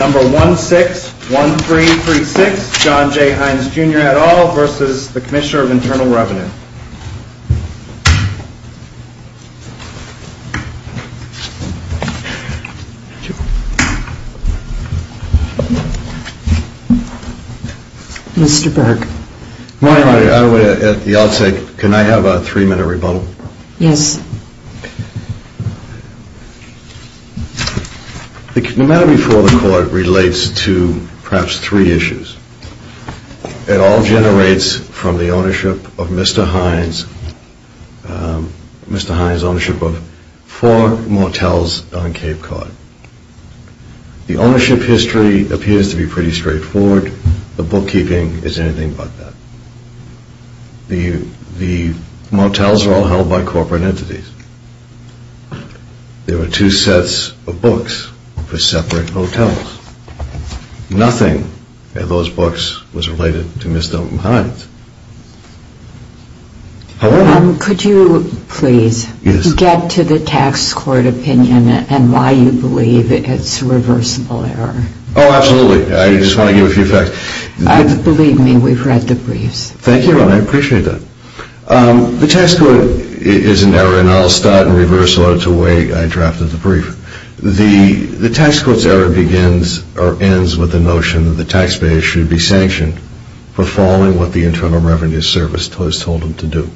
No. 161336, John J. Hynes, Jr. et al. v. Commissioner of Internal Revenue Mr. Burke Good morning, Madam Attorney. I would, at the outset, can I have a three-minute rebuttal? Yes The matter before the Court relates to perhaps three issues. It all generates from the ownership of Mr. Hynes, Mr. Hynes' ownership of four motels on Cape Cod. The ownership history appears to be pretty straightforward. The bookkeeping is anything but that. The motels were all held by corporate entities. There were two sets of books for separate motels. Nothing in those books was related to Mr. Hynes. However... Could you please get to the Tax Court opinion and why you believe it's a reversible error? Oh, absolutely. I just want to give a few facts. Believe me, we've read the briefs. Thank you, Madam Attorney. I appreciate that. The Tax Court is an error, and I'll start in reverse order to the way I drafted the brief. The Tax Court's error begins or ends with the notion that the taxpayer should be sanctioned for following what the Internal Revenue Service has told them to do.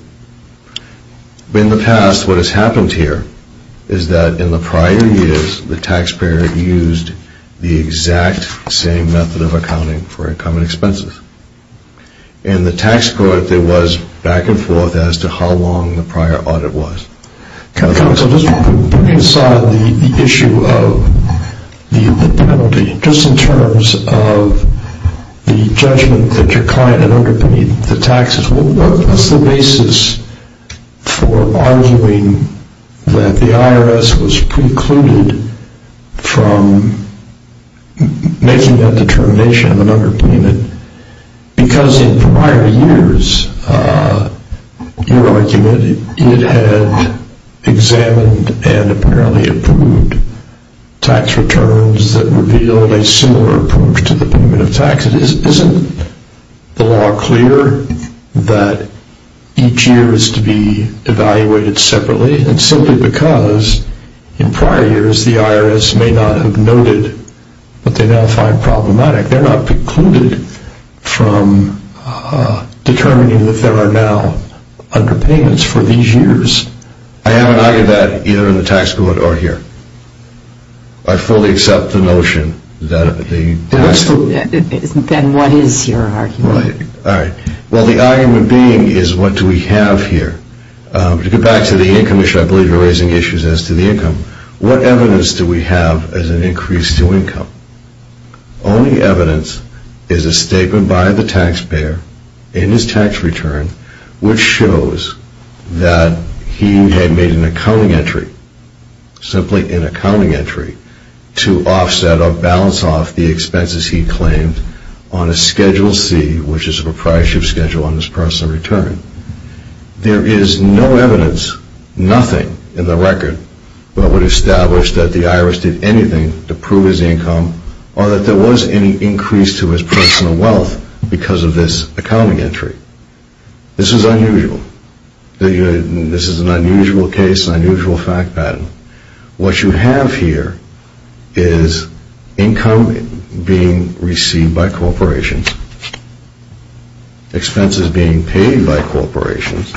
In the past, what has happened here is that in the prior years, the taxpayer used the exact same method of accounting for income and expenses. In the Tax Court, there was back and forth as to how long the prior audit was. Counsel, just putting aside the issue of the penalty, just in terms of the judgment that your client had underpinned the taxes, what was the basis for arguing that the IRS was precluded from making that determination of an underpayment? Because in prior years, your argument, it had examined and apparently approved tax returns that revealed a similar approach to the payment of taxes. Isn't the law clear that each year is to be evaluated separately? And simply because in prior years, the IRS may not have noted what they now find problematic. They're not precluded from determining that there are now underpayments for these years. I haven't argued that either in the Tax Court or here. I fully accept the notion that the... Then what is your argument? Well, the argument being is what do we have here? To get back to the income issue, I believe you're raising issues as to the income. What evidence do we have as an increase to income? Only evidence is a statement by the taxpayer in his tax return which shows that he had made an accounting entry, simply an accounting entry to offset or balance off the expenses he claimed on a Schedule C, which is a proprietorship schedule on his personal return. There is no evidence, nothing in the record, that would establish that the IRS did anything to prove his income or that there was any increase to his personal wealth because of this accounting entry. This is unusual. This is an unusual case, an unusual fact pattern. What you have here is income being received by corporations, expenses being paid by corporations,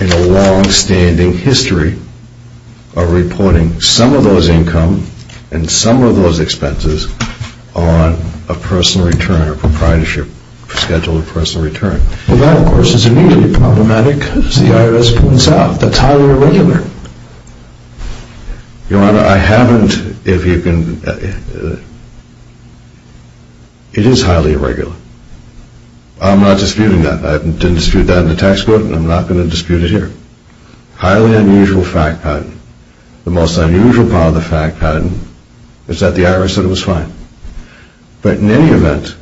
and a long-standing history of reporting some of those income and some of those expenses on a personal return or a proprietorship schedule of personal return. Well, that of course is immediately problematic as the IRS points out. That's highly irregular. Your Honor, I haven't... It is highly irregular. I'm not disputing that. I didn't dispute that in the tax code and I'm not going to dispute it here. Highly unusual fact pattern. The most unusual part of the fact pattern is that the IRS said it was fine. But in any event,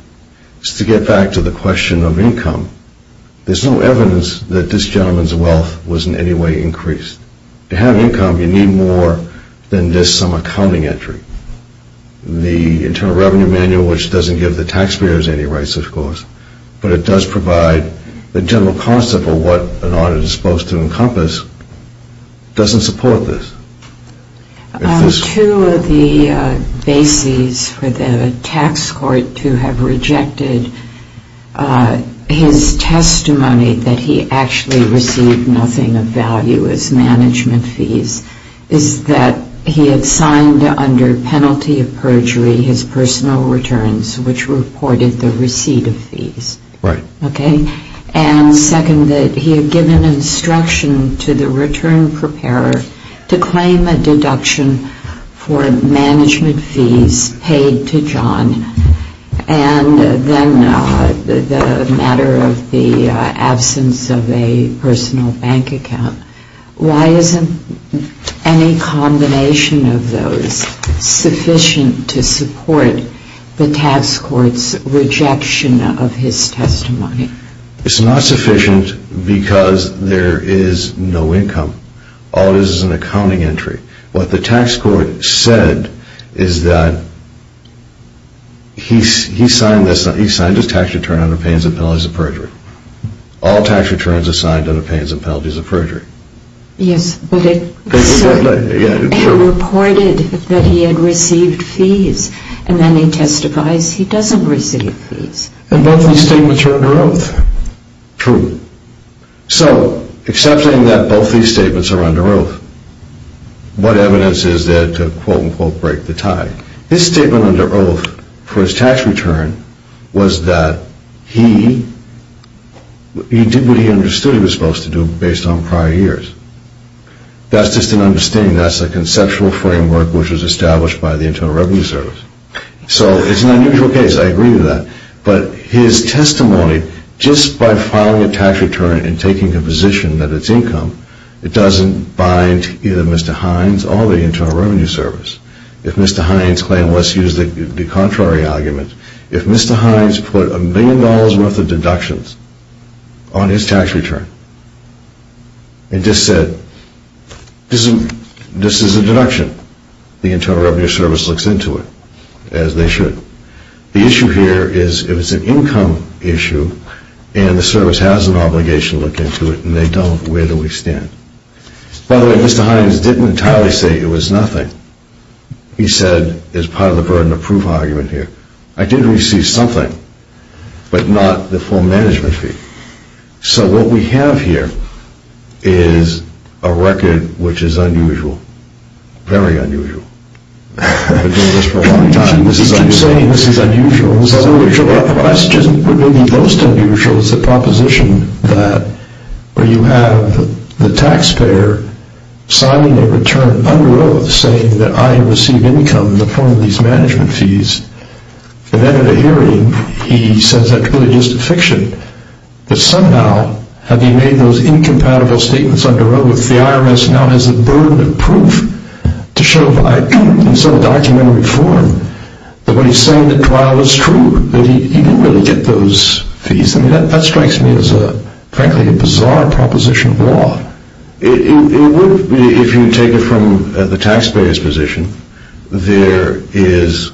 just to get back to the question of income, there's no evidence that this gentleman's wealth was in any way increased. To have income, you need more than just some accounting entry. The Internal Revenue Manual, which doesn't give the taxpayers any rights, of course, but it does provide the general concept of what an audit is supposed to encompass, doesn't support this. Two of the bases for the tax court to have rejected his testimony that he actually received nothing of value as management fees is that he had signed under penalty of perjury his personal returns, which reported the receipt of fees. Right. And second, that he had given instruction to the return preparer to claim a deduction for management fees paid to John and then the matter of the absence of a personal bank account. Why isn't any combination of those sufficient to support the tax court's rejection of his testimony? It's not sufficient because there is no income. All it is is an accounting entry. What the tax court said is that he signed a tax return under penalties of perjury. All tax returns are signed under penalties of perjury. Yes, but it reported that he had received fees and then he testifies he doesn't receive fees. And both of these statements are under oath. True. So, accepting that both of these statements are under oath, what evidence is there to quote-unquote break the tie? His statement under oath for his tax return was that he did what he understood he was supposed to do based on prior years. That's just an understanding. That's a conceptual framework which was established by the Internal Revenue Service. So, it's an unusual case. I agree with that. But his testimony, just by filing a tax return and taking a position that it's income, it doesn't bind either Mr. Hines or the Internal Revenue Service. If Mr. Hines claimed what's used to be contrary arguments, if Mr. Hines put a million dollars' worth of deductions on his tax return and just said, this is a deduction, the Internal Revenue Service looks into it as they should. The issue here is if it's an income issue and the service has an obligation to look into it and they don't, where do we stand? By the way, Mr. Hines didn't entirely say it was nothing. He said, as part of the burden of proof argument here, I did receive something, but not the full management fee. So, what we have here is a record which is unusual, very unusual. I've been doing this for a long time. This is unusual. I'm saying this is unusual. This is unusual. The question that may be most unusual is the proposition that you have the taxpayer signing a return under oath saying that I have received income in the form of these management fees. And then at a hearing, he says that's really just a fiction. But somehow, having made those incompatible statements under oath, the IRS now has the burden of proof to show by some documentary form that what he's saying at trial is true, that he didn't really get those fees. I mean, that strikes me as frankly a bizarre proposition of law. It would be, if you take it from the taxpayer's position, there is,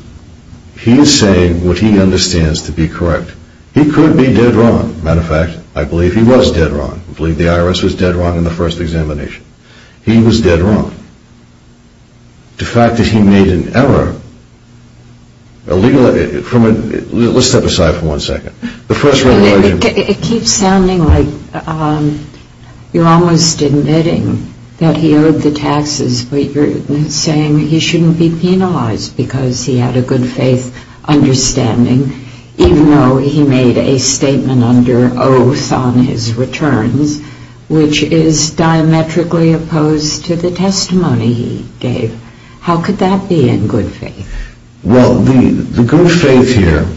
he is saying what he understands to be correct. He could be dead wrong. Matter of fact, I believe he was dead wrong. I believe the IRS was dead wrong in the first examination. He was dead wrong. The fact that he made an error illegally, let's step aside for one second. It keeps sounding like you're almost admitting that he owed the taxes, but you're saying he shouldn't be penalized because he had a good faith understanding, even though he made a statement under oath on his returns, which is diametrically opposed to the testimony he gave. How could that be in good faith? Well, the good faith here,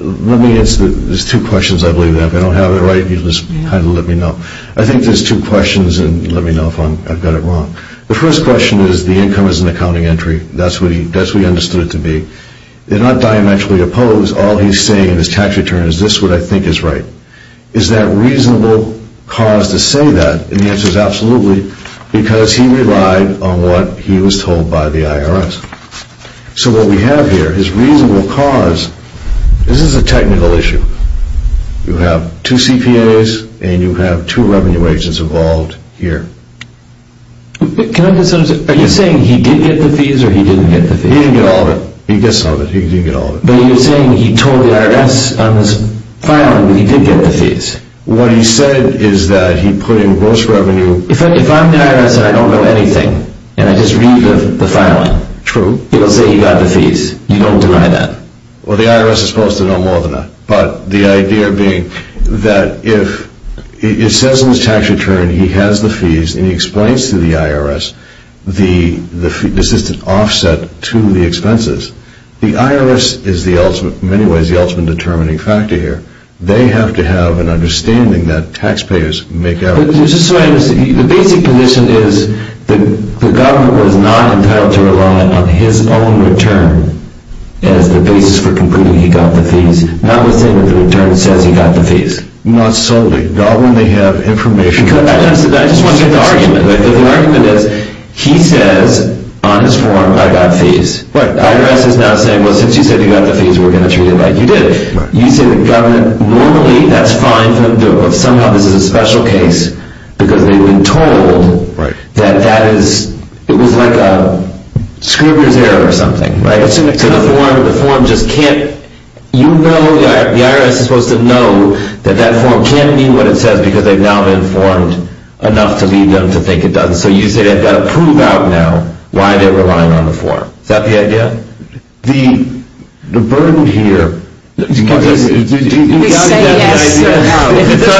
let me answer this. There's two questions, I believe. If I don't have it right, you just kind of let me know. I think there's two questions, and let me know if I've got it wrong. The first question is the income is an accounting entry. That's what he understood it to be. They're not diametrically opposed. All he's saying in his tax return is this is what I think is right. Is that reasonable cause to say that? The answer is absolutely, because he relied on what he was told by the IRS. So what we have here is reasonable cause. This is a technical issue. You have two CPAs, and you have two revenue agents involved here. Are you saying he did get the fees or he didn't get the fees? He didn't get all of it. He gets some of it. He didn't get all of it. What he said is that he put in gross revenue. If I'm the IRS and I don't know anything, and I just read the filing, he'll say he got the fees. You don't deny that. Well, the IRS is supposed to know more than that. But the idea being that if it says in his tax return he has the fees and he explains to the IRS the assistant offset to the expenses, the IRS is in many ways the ultimate determining factor here. They have to have an understanding that taxpayers make out. The basic position is the government was not entitled to rely on his own return as the basis for concluding he got the fees. Now we're saying that the return says he got the fees. Not solely. Not when they have information. I just want to get the argument. The argument is he says on his form, I got fees. The IRS is now saying, well, since you said you got the fees, we're going to treat it like you did. You say the government, normally that's fine for them to do it, but somehow this is a special case because they've been told that that is, it was like a Scribner's error or something, right? To the form, the form just can't, you know, the IRS is supposed to know that that form can't mean what it says because they've now been informed enough to lead them to think it doesn't. So you say they've got to prove out now why they're relying on the form. Is that the idea? The burden here. We say yes. It's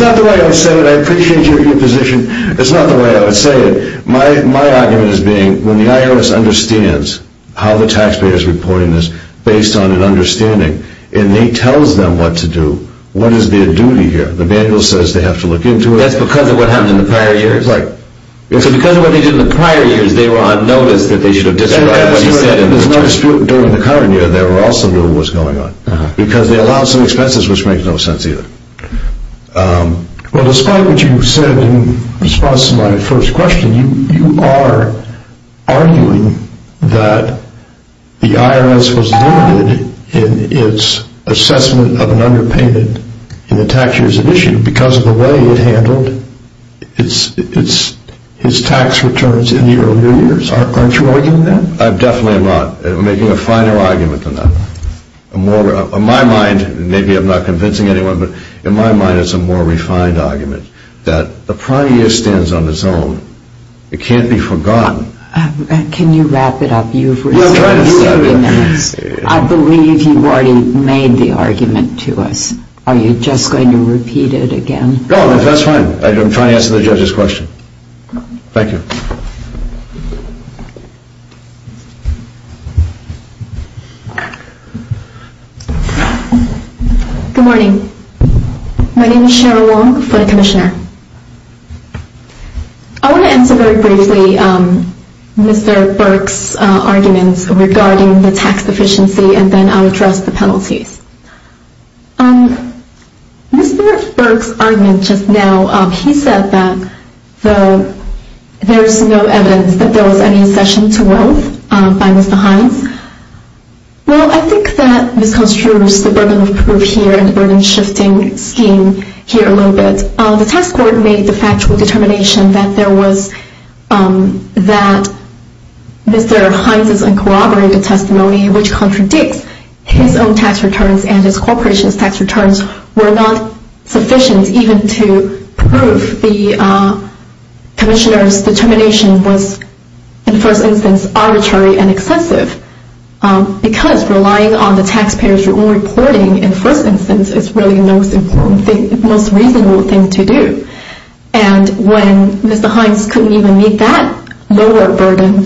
not the way I would say it. I appreciate your position. It's not the way I would say it. My argument is being when the IRS understands how the taxpayer is reporting this based on an understanding and he tells them what to do, what is their duty here? The manual says they have to look into it. That's because of what happened in the prior years? That's right. So because of what they did in the prior years, they were on notice that they should have described what he said in the text. During the current year, they were also aware of what was going on because they allowed some expenses, which makes no sense either. Well, despite what you said in response to my first question, you are arguing that the IRS was limited in its assessment of an underpainted in the tax years of issue because of the way it handled its tax returns in the early years? Aren't you arguing that? I'm definitely not. I'm making a finer argument than that. In my mind, maybe I'm not convincing anyone, but in my mind it's a more refined argument that the prior year stands on its own. It can't be forgotten. Can you wrap it up? You've raised this argument. I'm trying to wrap it up. I believe you've already made the argument to us. Are you just going to repeat it again? No, that's fine. I'm trying to answer the judge's question. Thank you. Good morning. My name is Cheryl Wong, foreign commissioner. I want to answer very briefly Mr. Burke's arguments regarding the tax efficiency and then I'll address the penalties. Mr. Burke's argument just now, he said that there's no evidence that there was any accession to wealth by Mr. Hines. Well, I think that this constitutes the burden of proof here and the burden-shifting scheme here a little bit. The tax court made the factual determination that there was that Mr. Hines's uncorroborated testimony, which contradicts his own tax returns and his corporation's tax returns, were not sufficient even to prove the commissioner's determination was, in the first instance, arbitrary and excessive because relying on the taxpayer's own reporting, in the first instance, is really the most reasonable thing to do. And when Mr. Hines couldn't even meet that lower burden,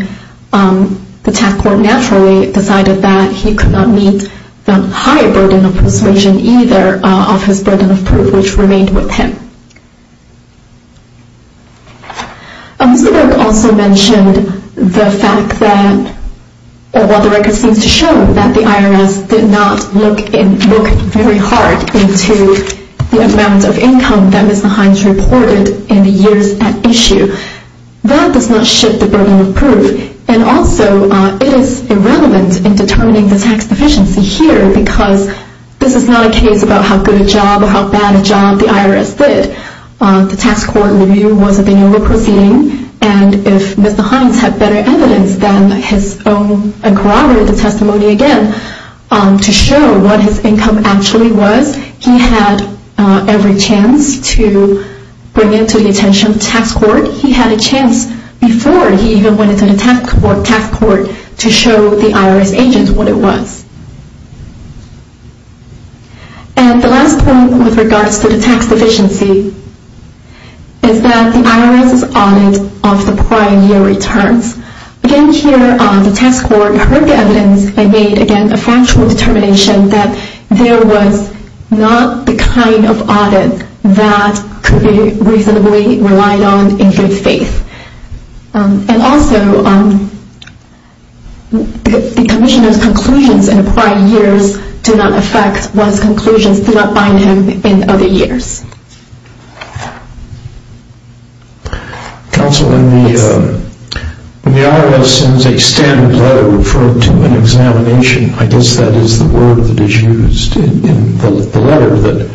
the tax court naturally decided that he could not meet the higher burden of persuasion either of his burden of proof, which remained with him. Mr. Burke also mentioned the fact that, while the record seems to show that the IRS did not look very hard into the amount of income that Mr. Hines reported in the years at issue, that does not shift the burden of proof. And also, it is irrelevant in determining the tax efficiency here because this is not a case about how good a job or how bad a job the IRS did. The tax court review wasn't being over-proceeding, and if Mr. Hines had better evidence than his own uncorroborated testimony, again, to show what his income actually was, he had every chance to bring it to the attention of the tax court. He had a chance before he even went into the tax court to show the IRS agent what it was. And the last point with regards to the tax efficiency is that the IRS's audit of the prior year returns. Again, here, the tax court heard the evidence and made, again, a factual determination that there was not the kind of audit that could be reasonably relied on in good faith. And also, the commissioner's conclusions in prior years did not affect one's conclusions throughout buying him in other years. Counsel, when the IRS sends a standard letter referred to an examination, I guess that is the word that is used in the letter that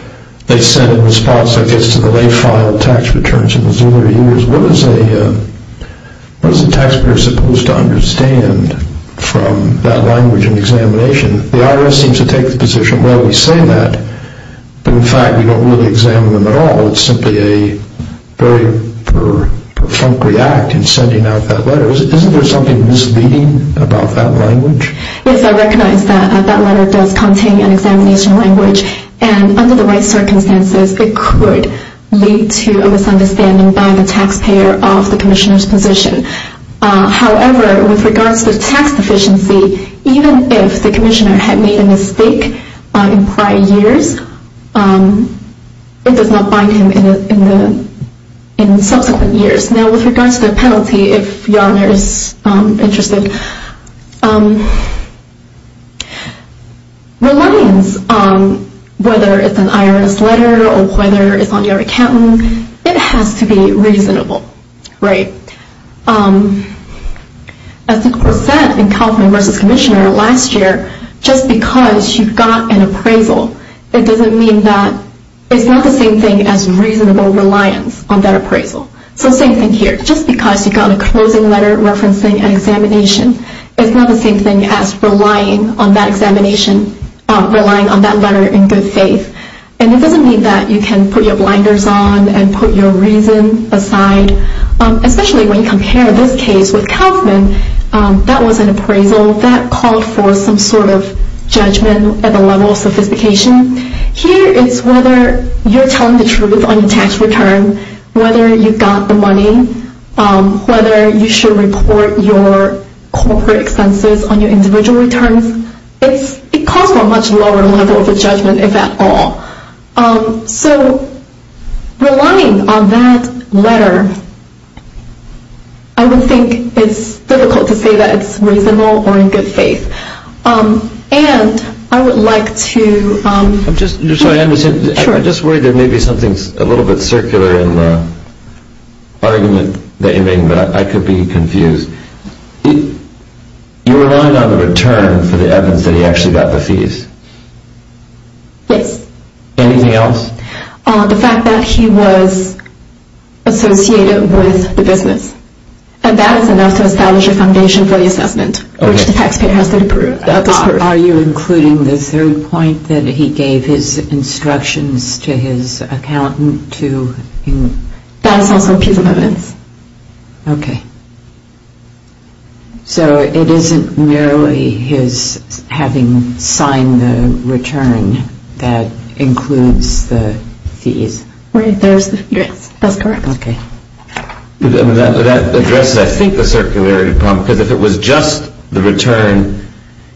they sent in response, I guess, to the late filed tax returns in those earlier years. What is a taxpayer supposed to understand from that language in examination? The IRS seems to take the position, well, we say that, but in fact, we don't really examine them at all. It's simply a very perfunctory act in sending out that letter. Isn't there something misleading about that language? Yes, I recognize that that letter does contain an examination language, and under the right circumstances, it could lead to a misunderstanding by the taxpayer of the commissioner's position. However, with regards to the tax efficiency, even if the commissioner had made a mistake in prior years, it does not bind him in subsequent years. Now, with regards to the penalty, if your honor is interested, reliance on whether it's an IRS letter or whether it's on your accountant, it has to be reasonable, right? As was said in Kaufman v. Commissioner last year, just because you got an appraisal, it doesn't mean that it's not the same thing as reasonable reliance on that appraisal. So same thing here, just because you got a closing letter referencing an examination, it's not the same thing as relying on that examination, relying on that letter in good faith. And it doesn't mean that you can put your blinders on and put your reason aside, especially when you compare this case with Kaufman. That was an appraisal that called for some sort of judgment at the level of sophistication. Here it's whether you're telling the truth on your tax return, whether you got the money, whether you should report your corporate expenses on your individual returns. It calls for a much lower level of a judgment, if at all. So relying on that letter, I would think it's difficult to say that it's reasonable or in good faith. And I would like to... I'm just worried there may be something a little bit circular in the argument that you're making, but I could be confused. You relied on the return for the evidence that he actually got the fees. Yes. Anything else? The fact that he was associated with the business. And that is enough to establish a foundation for the assessment, which the taxpayer has to approve. Are you including the third point that he gave his instructions to his accountant to... That's also a piece of evidence. Okay. So it isn't merely his having signed the return that includes the fees. There's the address. That's correct. Okay. That addresses, I think, the circularity problem, because if it was just the return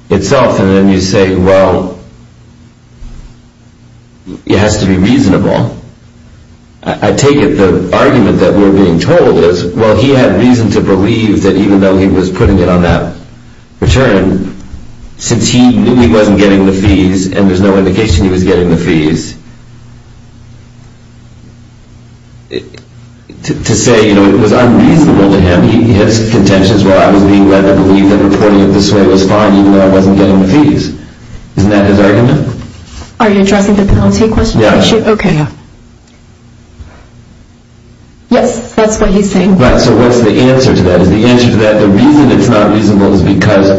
itself, and then you say, well, it has to be reasonable, I take it the argument that we're being told is, well, he had reason to believe that even though he was putting it on that return, since he knew he wasn't getting the fees and there's no indication he was getting the fees, to say, you know, it was unreasonable to him. His contention is, well, I was being led to believe that reporting it this way was fine, even though I wasn't getting the fees. Isn't that his argument? Are you addressing the penalty question? Yes. Okay. Yes, that's what he's saying. Right. So what's the answer to that? Is the answer to that the reason it's not reasonable is because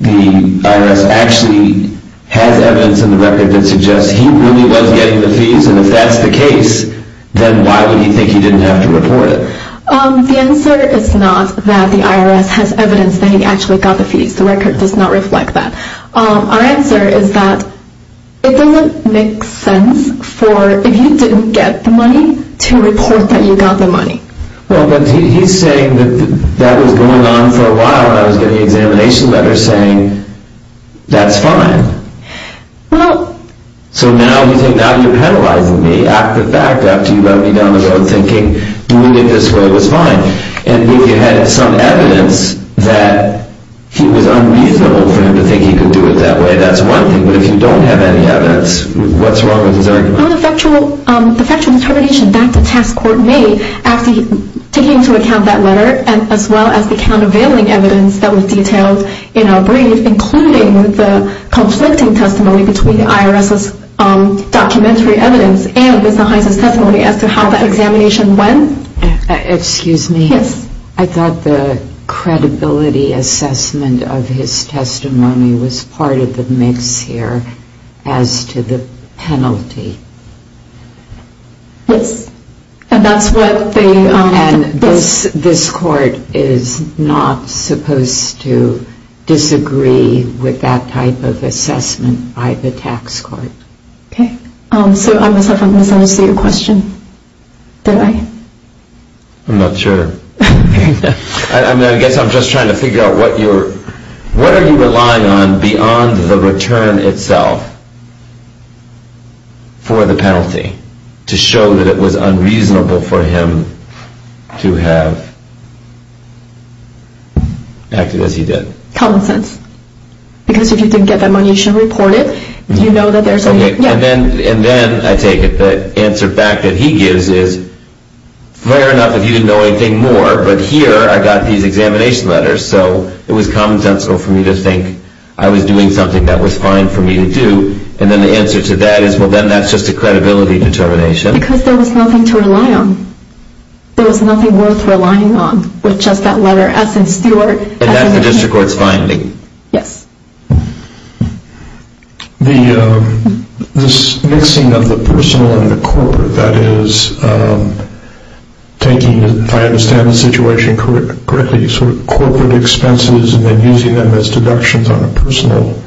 the IRS actually has evidence in the record that suggests he really was getting the fees, and if that's the case, then why would he think he didn't have to report it? The answer is not that the IRS has evidence that he actually got the fees. The record does not reflect that. Our answer is that it doesn't make sense for, if you didn't get the money, to report that you got the money. Well, but he's saying that that was going on for a while, and I was getting examination letters saying that's fine. So now you're penalizing me after the fact, after you let me down the road thinking doing it this way was fine, and if you had some evidence that it was unreasonable for him to think he could do it that way, that's one thing. But if you don't have any evidence, what's wrong with his argument? Well, the factual determination that the task force made after taking into account that letter, as well as the countervailing evidence that was detailed in our brief, including the conflicting testimony between the IRS's documentary evidence and Mr. Hines' testimony as to how the examination went. Excuse me. Yes. I thought the credibility assessment of his testimony was part of the mix here as to the penalty. Yes, and that's what they... And this court is not supposed to disagree with that type of assessment by the tax court. Okay. So I must have misunderstood your question. Did I? I'm not sure. I guess I'm just trying to figure out what you're... beyond the return itself for the penalty to show that it was unreasonable for him to have acted as he did. Common sense. Because if you didn't get that money, you should report it. You know that there's a... Okay, and then I take it the answer back that he gives is, fair enough if you didn't know anything more, but here I got these examination letters, so it was commonsensical for me to think I was doing something that was fine for me to do, and then the answer to that is, well, then that's just a credibility determination. Because there was nothing to rely on. There was nothing worth relying on with just that letter S in Stewart. And that's the district court's finding. Yes. The mixing of the personal and the corporate, that is, taking, if I understand the situation correctly, sort of corporate expenses and then using them as deductions on a personal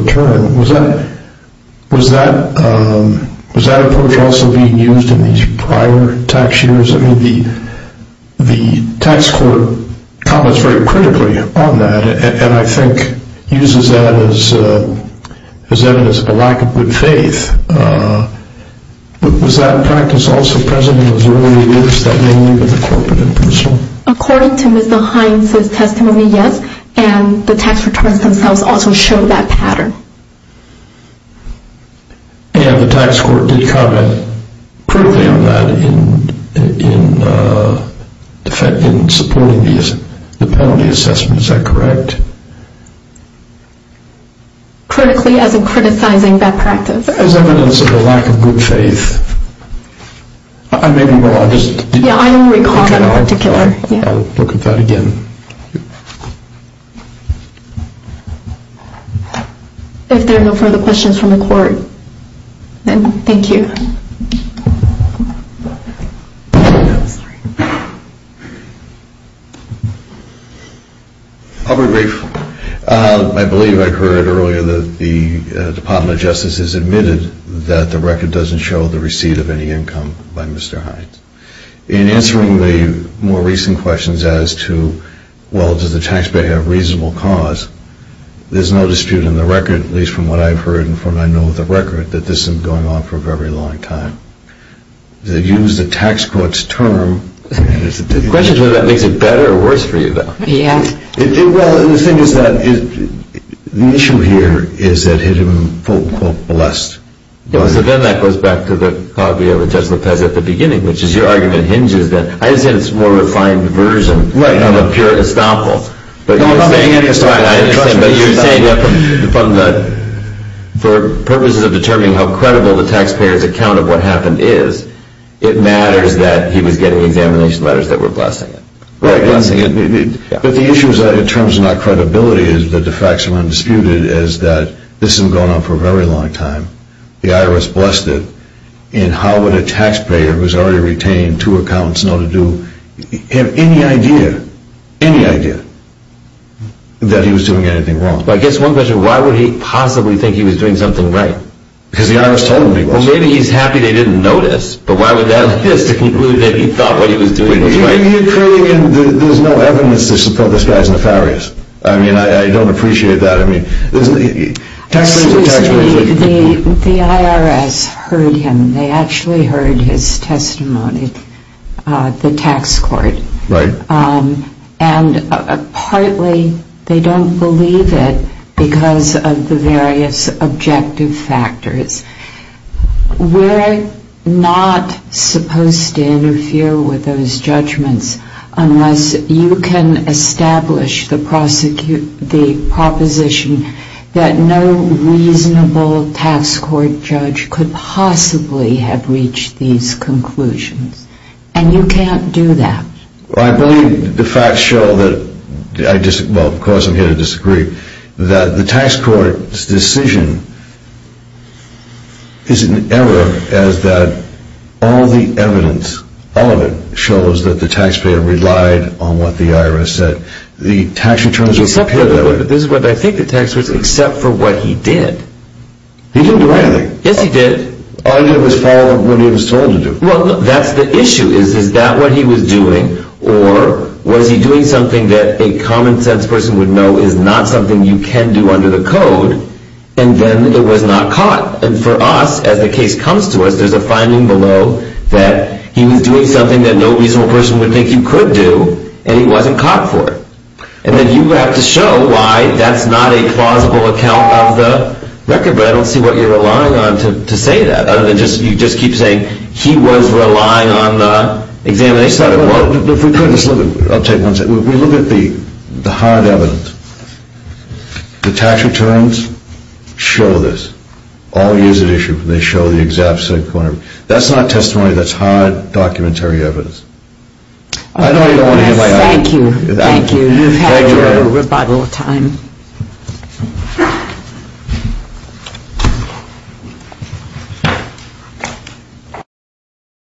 return, was that approach also being used in these prior tax years? I mean, the tax court comments very critically on that, and I think uses that as evidence of a lack of good faith. Was that practice also present in those early years, that mainly with the corporate and personal? According to Mr. Hines' testimony, yes, and the tax returns themselves also show that pattern. And the tax court did comment critically on that in supporting the penalty assessment, is that correct? Critically, as in criticizing that practice. As evidence of a lack of good faith. I may be wrong. Yeah, I don't recall that in particular. I'll look at that again. If there are no further questions from the court, then thank you. I'll be brief. I believe I heard earlier that the Department of Justice has admitted that the record doesn't show the receipt of any income by Mr. Hines. In answering the more recent questions as to, well, does the taxpayer have reasonable cause, there's no dispute in the record, at least from what I've heard and from what I know of the record, that this has been going on for a very long time. They use the tax court's term. Well, the thing is that the issue here is that he had been, quote, quote, blessed. Then that goes back to the caveat with Judge Lopez at the beginning, which is your argument hinges that. I understand it's a more refined version of a pure estoppel. No, I'm not saying that. But you're saying that for purposes of determining how credible the taxpayer's account of what happened is, it matters that he was getting examination letters that were blessing him. Right, blessing him. But the issue is that in terms of not credibility is that the facts are undisputed is that this has been going on for a very long time. The IRS blessed him. And how would a taxpayer who's already retained two accounts know to do, have any idea, any idea, that he was doing anything wrong? Well, I guess one question, why would he possibly think he was doing something right? Because the IRS told him he was. Well, maybe he's happy they didn't notice. But why would that lead us to conclude that he thought what he was doing was right? There's no evidence to support this guy's nefarious. I mean, I don't appreciate that. Taxpayers are taxpayers. The IRS heard him. They actually heard his testimony at the tax court. Right. And partly they don't believe it because of the various objective factors. We're not supposed to interfere with those judgments unless you can establish the proposition that no reasonable tax court judge could possibly have reached these conclusions. And you can't do that. Well, I believe the facts show that, well, of course I'm here to disagree, that the tax court's decision is in error as that all the evidence, all of it, shows that the taxpayer relied on what the IRS said. The tax returns were prepared that way. This is what I think the tax court said. Except for what he did. He didn't do anything. Yes, he did. All he did was follow what he was told to do. Well, that's the issue. Is that what he was doing? Or was he doing something that a common sense person would know is not something you can do under the code, and then it was not caught? And for us, as the case comes to us, there's a finding below that he was doing something that no reasonable person would think you could do, and he wasn't caught for it. And then you have to show why that's not a plausible account of the record. But I don't see what you're relying on to say that other than you just keep saying he was relying on the examination. Well, if we could just look at the hard evidence. The tax returns show this. All years at issue, they show the exact same corner. That's not testimony. That's hard documentary evidence. I know you don't want to hear my answer. Thank you. Thank you. You've had your rebuttal time.